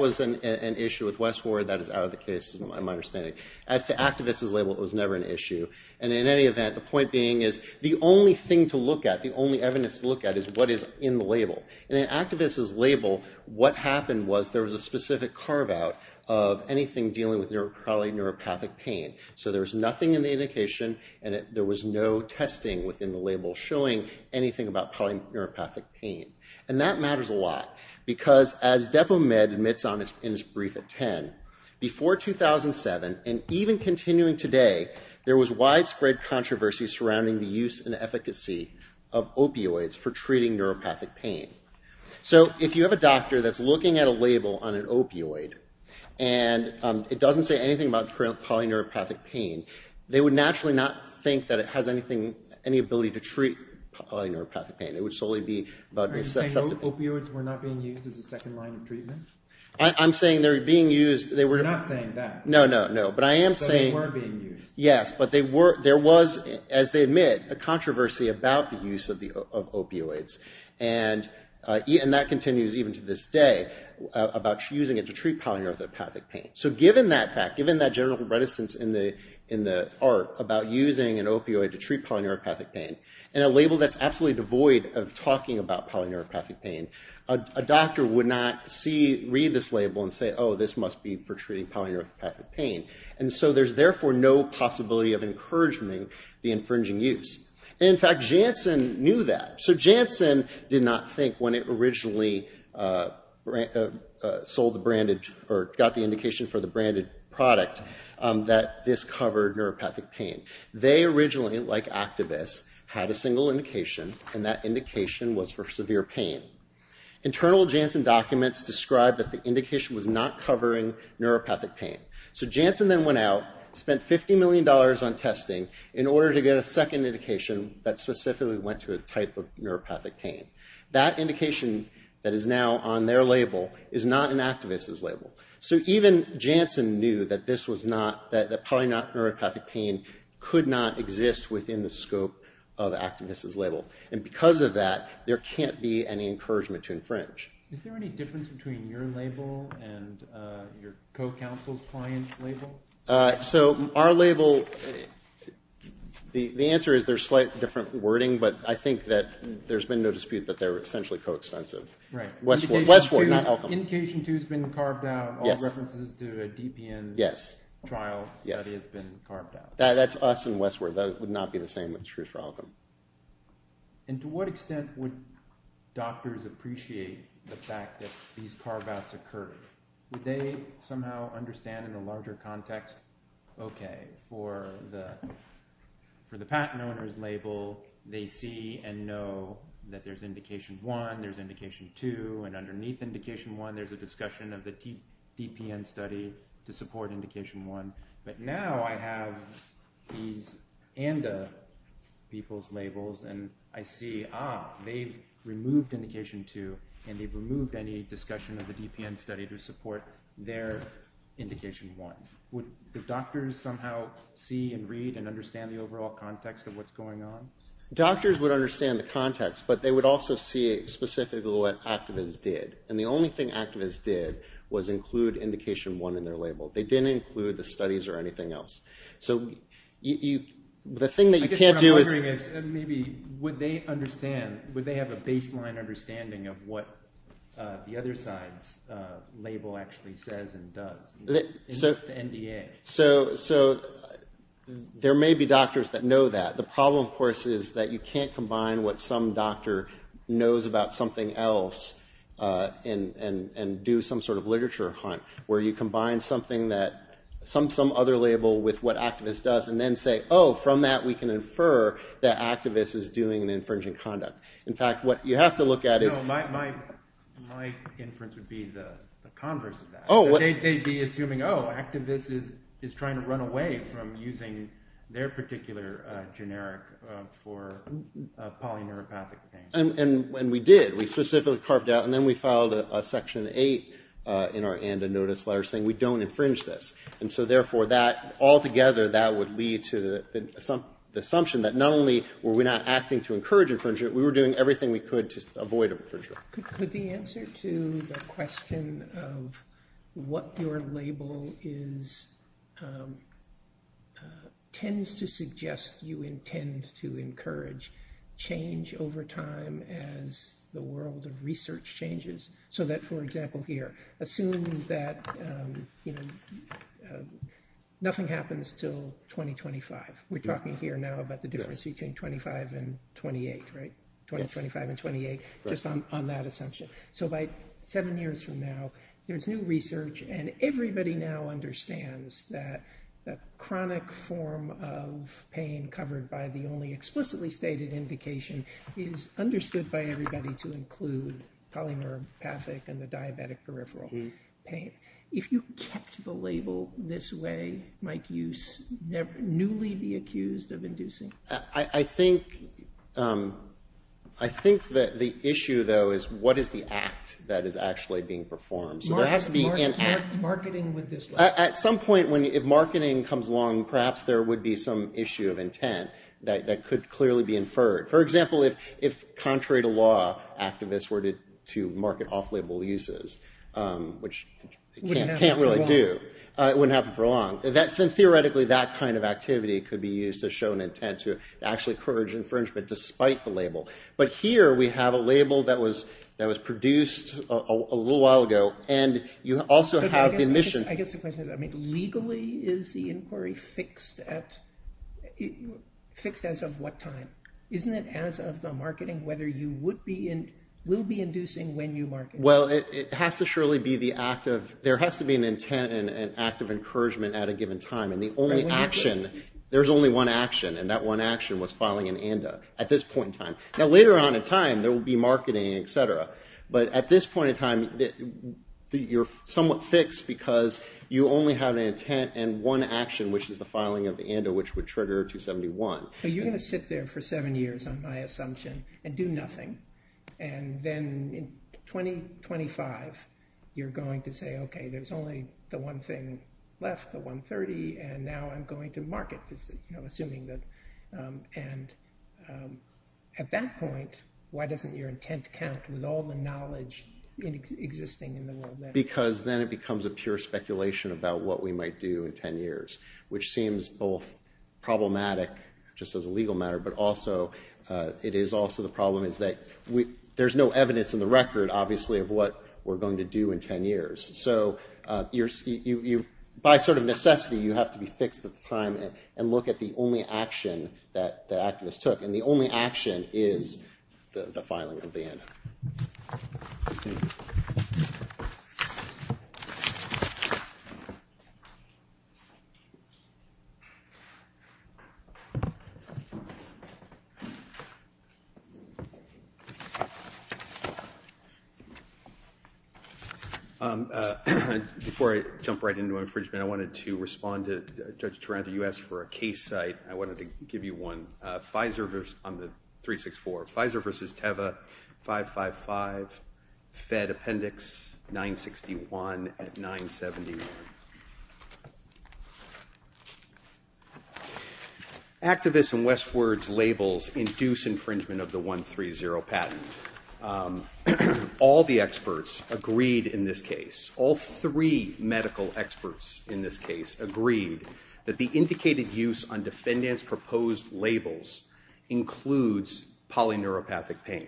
was an issue with Westward. That is out of the case, in my understanding. As to activists' label, it was never an issue. And in any event, the point being is the only thing to look at, the only evidence to look at, is what is in the label. In an activist's label, what happened was there was a specific carve-out of anything dealing with polyneuropathic pain. So there was nothing in the indication, and there was no testing within the label showing anything about polyneuropathic pain. And that matters a lot, because as DepoMed admits in its brief at 10, before 2007, and even continuing today, there was widespread controversy surrounding the use and efficacy of opioids for treating neuropathic pain. So if you have a doctor that's looking at a label on an opioid, and it doesn't say anything about polyneuropathic pain, they would naturally not think that it has any ability to treat polyneuropathic pain. It would solely be about... Are you saying opioids were not being used as a second line of treatment? I'm saying they were being used... You're not saying that. No, no, no, but I am saying... That they were being used. Yes, but there was, as they admit, a controversy about the use of opioids. And that continues even to this day about using it to treat polyneuropathic pain. So given that fact, given that general reticence in the art about using an opioid to treat polyneuropathic pain, in a label that's absolutely devoid of talking about polyneuropathic pain, a doctor would not read this label and say, oh, this must be for treating polyneuropathic pain. And so there's therefore no possibility of encouraging the infringing use. And in fact, Janssen knew that. So Janssen did not think when it originally got the indication for the branded product that this covered neuropathic pain. They originally, like activists, had a single indication, and that indication was for severe pain. Internal Janssen documents describe that the indication was not covering neuropathic pain. So Janssen then went out, spent $50 million on testing in order to get a second indication that specifically went to a type of neuropathic pain. That indication that is now on their label is not an activist's label. So even Janssen knew that polyneuropathic pain could not exist within the scope of activists' label. And because of that, there can't be any encouragement to infringe. Is there any difference between your label and your co-counsel's client's label? So our label, the answer is there's slight different wording, but I think that there's been no dispute that they're essentially co-extensive. Right. Westward, not Elkham. Indication 2 has been carved out. All references to a DPN trial study has been carved out. That's us and Westward. That would not be the same with Truth for Elkham. And to what extent would doctors appreciate the fact that these carve-outs occurred? Would they somehow understand in a larger context, okay, for the patent owner's label, they see and know that there's indication 1, there's indication 2, and underneath indication 1, there's a discussion of the DPN study to support indication 1. But now I have these ANDA people's labels and I see, ah, they've removed indication 2 and they've removed any discussion of the DPN study to support their indication 1. Would the doctors somehow see and read and understand the overall context of what's going on? Doctors would understand the context, but they would also see specifically what activists did. And the only thing activists did was include indication 1 in their label. They didn't include the studies or anything else. So the thing that you can't do is... I guess what I'm wondering is maybe would they understand, would they have a baseline understanding of what the other side's label actually says and does? The NDA. So there may be doctors that know that. The problem, of course, is that you can't combine what some doctor knows about something else and do some sort of literature hunt where you combine some other label with what activist does and then say, oh, from that we can infer that activist is doing an infringing conduct. In fact, what you have to look at is... No, my inference would be the converse of that. They'd be assuming, oh, activist is trying to run away from using their particular generic for polyneuropathic things. And we did. We specifically carved out and then we filed a section 8 in our NDA notice letter saying we don't infringe this. And so, therefore, altogether that would lead to the assumption that not only were we not acting to encourage infringement, we were doing everything we could to avoid infringement. Could the answer to the question of what your label is tends to suggest you intend to encourage change over time as the world of research changes? So that, for example, here, assume that nothing happens till 2025. We're talking here now about the difference between 25 and 28, right? 2025 and 28, just on that assumption. So by seven years from now, there's new research and everybody now understands that chronic form of pain covered by the only explicitly stated indication is understood by everybody to include polyneuropathic and the diabetic peripheral pain. If you kept the label this way, might you newly be accused of inducing? I think that the issue, though, is what is the act that is actually being performed? Marketing with this label. At some point, if marketing comes along, perhaps there would be some issue of intent that could clearly be inferred. For example, if contrary to law, activists were to market off-label uses, which they can't really do. It wouldn't happen for long. Theoretically, that kind of activity could be used to show an intent to actually encourage infringement despite the label. But here we have a label that was produced a little while ago, and you also have the mission. I guess the question is, legally, is the inquiry fixed as of what time? Isn't it as of the marketing, whether you will be inducing when you market? Well, there has to be an intent and an act of encouragement at a given time. There's only one action, and that one action was filing an ANDA at this point in time. Now, later on in time, there will be marketing, etc. But at this point in time, you're somewhat fixed because you only have an intent and one action, which is the filing of the ANDA, which would trigger 271. But you're going to sit there for seven years on my assumption and do nothing. And then in 2025, you're going to say, okay, there's only the one thing left, the 130, and now I'm going to market, assuming that. And at that point, why doesn't your intent count with all the knowledge existing in the world? Because then it becomes a pure speculation about what we might do in ten years, which seems both problematic just as a legal matter, but also it is also the problem is that there's no evidence in the record, obviously, of what we're going to do in ten years. So by sort of necessity, you have to be fixed at the time and look at the only action that activists took. And the only action is the filing of the ANDA. Thank you. Before I jump right into infringement, I wanted to respond to Judge Taranto. You asked for a case site. I wanted to give you one. On the 364, Pfizer versus Teva 555, Fed Appendix 961 at 970. Activists and Westward's labels induce infringement of the 130 patent. All the experts agreed in this case, all three medical experts in this case, agreed that the indicated use on defendant's proposed labels includes polyneuropathic pain.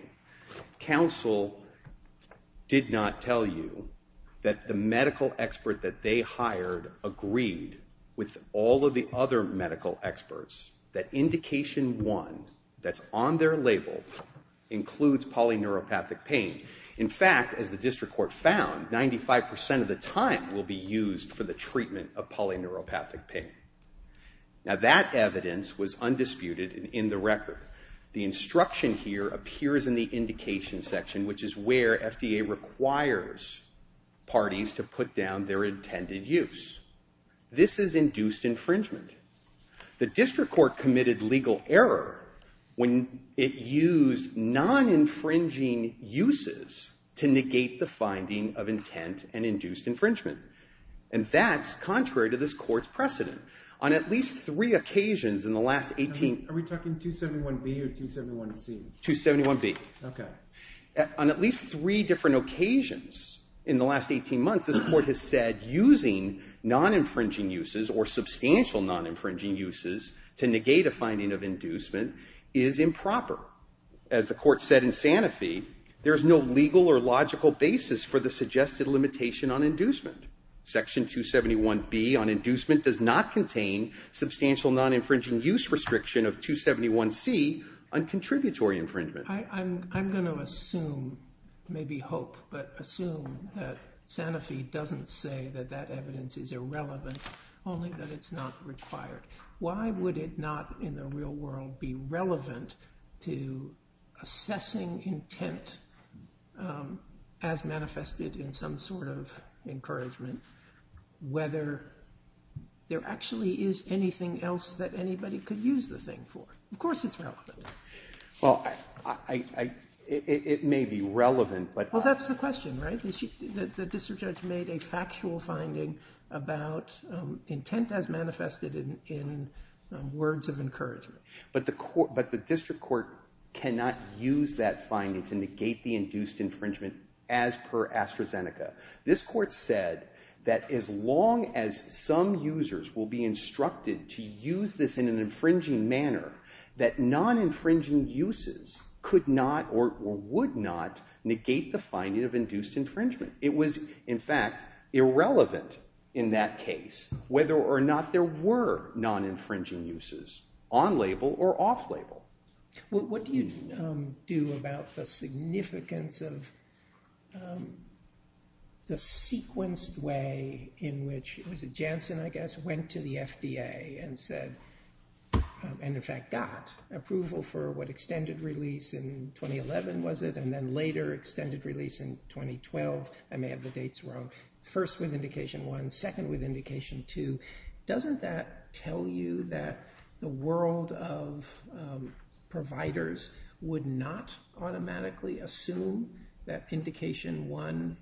Counsel did not tell you that the medical expert that they hired agreed with all of the other medical experts that indication one that's on their label includes polyneuropathic pain. In fact, as the district court found, 95% of the time will be used for the treatment of polyneuropathic pain. Now, that evidence was undisputed in the record. The instruction here appears in the indication section, which is where FDA requires parties to put down their intended use. This has induced infringement. The district court committed legal error when it used non-infringing uses to negate the finding of intent and induced infringement. And that's contrary to this court's precedent. On at least three occasions in the last 18... Are we talking 271B or 271C? 271B. Okay. On at least three different occasions in the last 18 months, this court has said using non-infringing uses or substantial non-infringing uses to negate a finding of inducement is improper. As the court said in Sanofi, there's no legal or logical basis for the suggested limitation on inducement. Section 271B on inducement does not contain substantial non-infringing use restriction of 271C on contributory infringement. I'm going to assume, maybe hope, but assume that Sanofi doesn't say that that evidence is irrelevant, only that it's not required. Why would it not in the real world be relevant to assessing intent as manifested in some sort of encouragement, whether there actually is anything else that anybody could use the thing for? Of course it's relevant. Well, it may be relevant, but... Well, that's the question, right? The district judge made a factual finding about intent as manifested in words of encouragement. But the district court cannot use that finding to negate the induced infringement as per AstraZeneca. This court said that as long as some users will be instructed to use this in an infringing manner, that non-infringing uses could not or would not negate the finding of induced infringement. It was, in fact, irrelevant in that case whether or not there were non-infringing uses on label or off label. What do you do about the significance of the sequenced way in which, was it Janssen, I guess, went to the FDA and said, and in fact got approval for what extended release in 2011, was it, and then later extended release in 2012? I may have the dates wrong. First with indication one, second with indication two. Doesn't that tell you that the world of providers would not automatically assume that indication one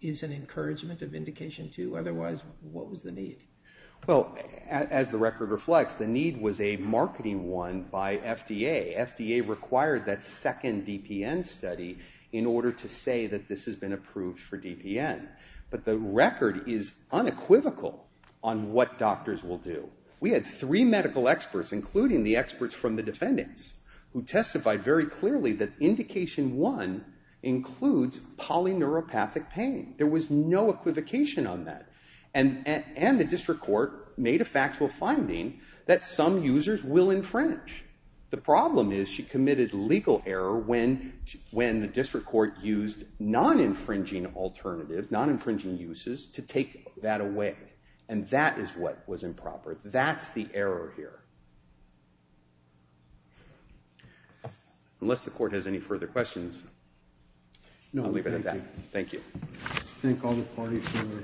is an encouragement of indication two? Otherwise, what was the need? Well, as the record reflects, the need was a marketing one by FDA. FDA required that second DPN study in order to say that this has been approved for DPN. But the record is unequivocal on what doctors will do. We had three medical experts, including the experts from the defendants, who testified very clearly that indication one includes polyneuropathic pain. There was no equivocation on that. And the district court made a factual finding that some users will infringe. The problem is she committed legal error when the district court used non-infringing alternatives, non-infringing uses, to take that away. And that is what was improper. That's the error here. Unless the court has any further questions, I'll leave it at that. Thank you. Thank all the parties for their arguments.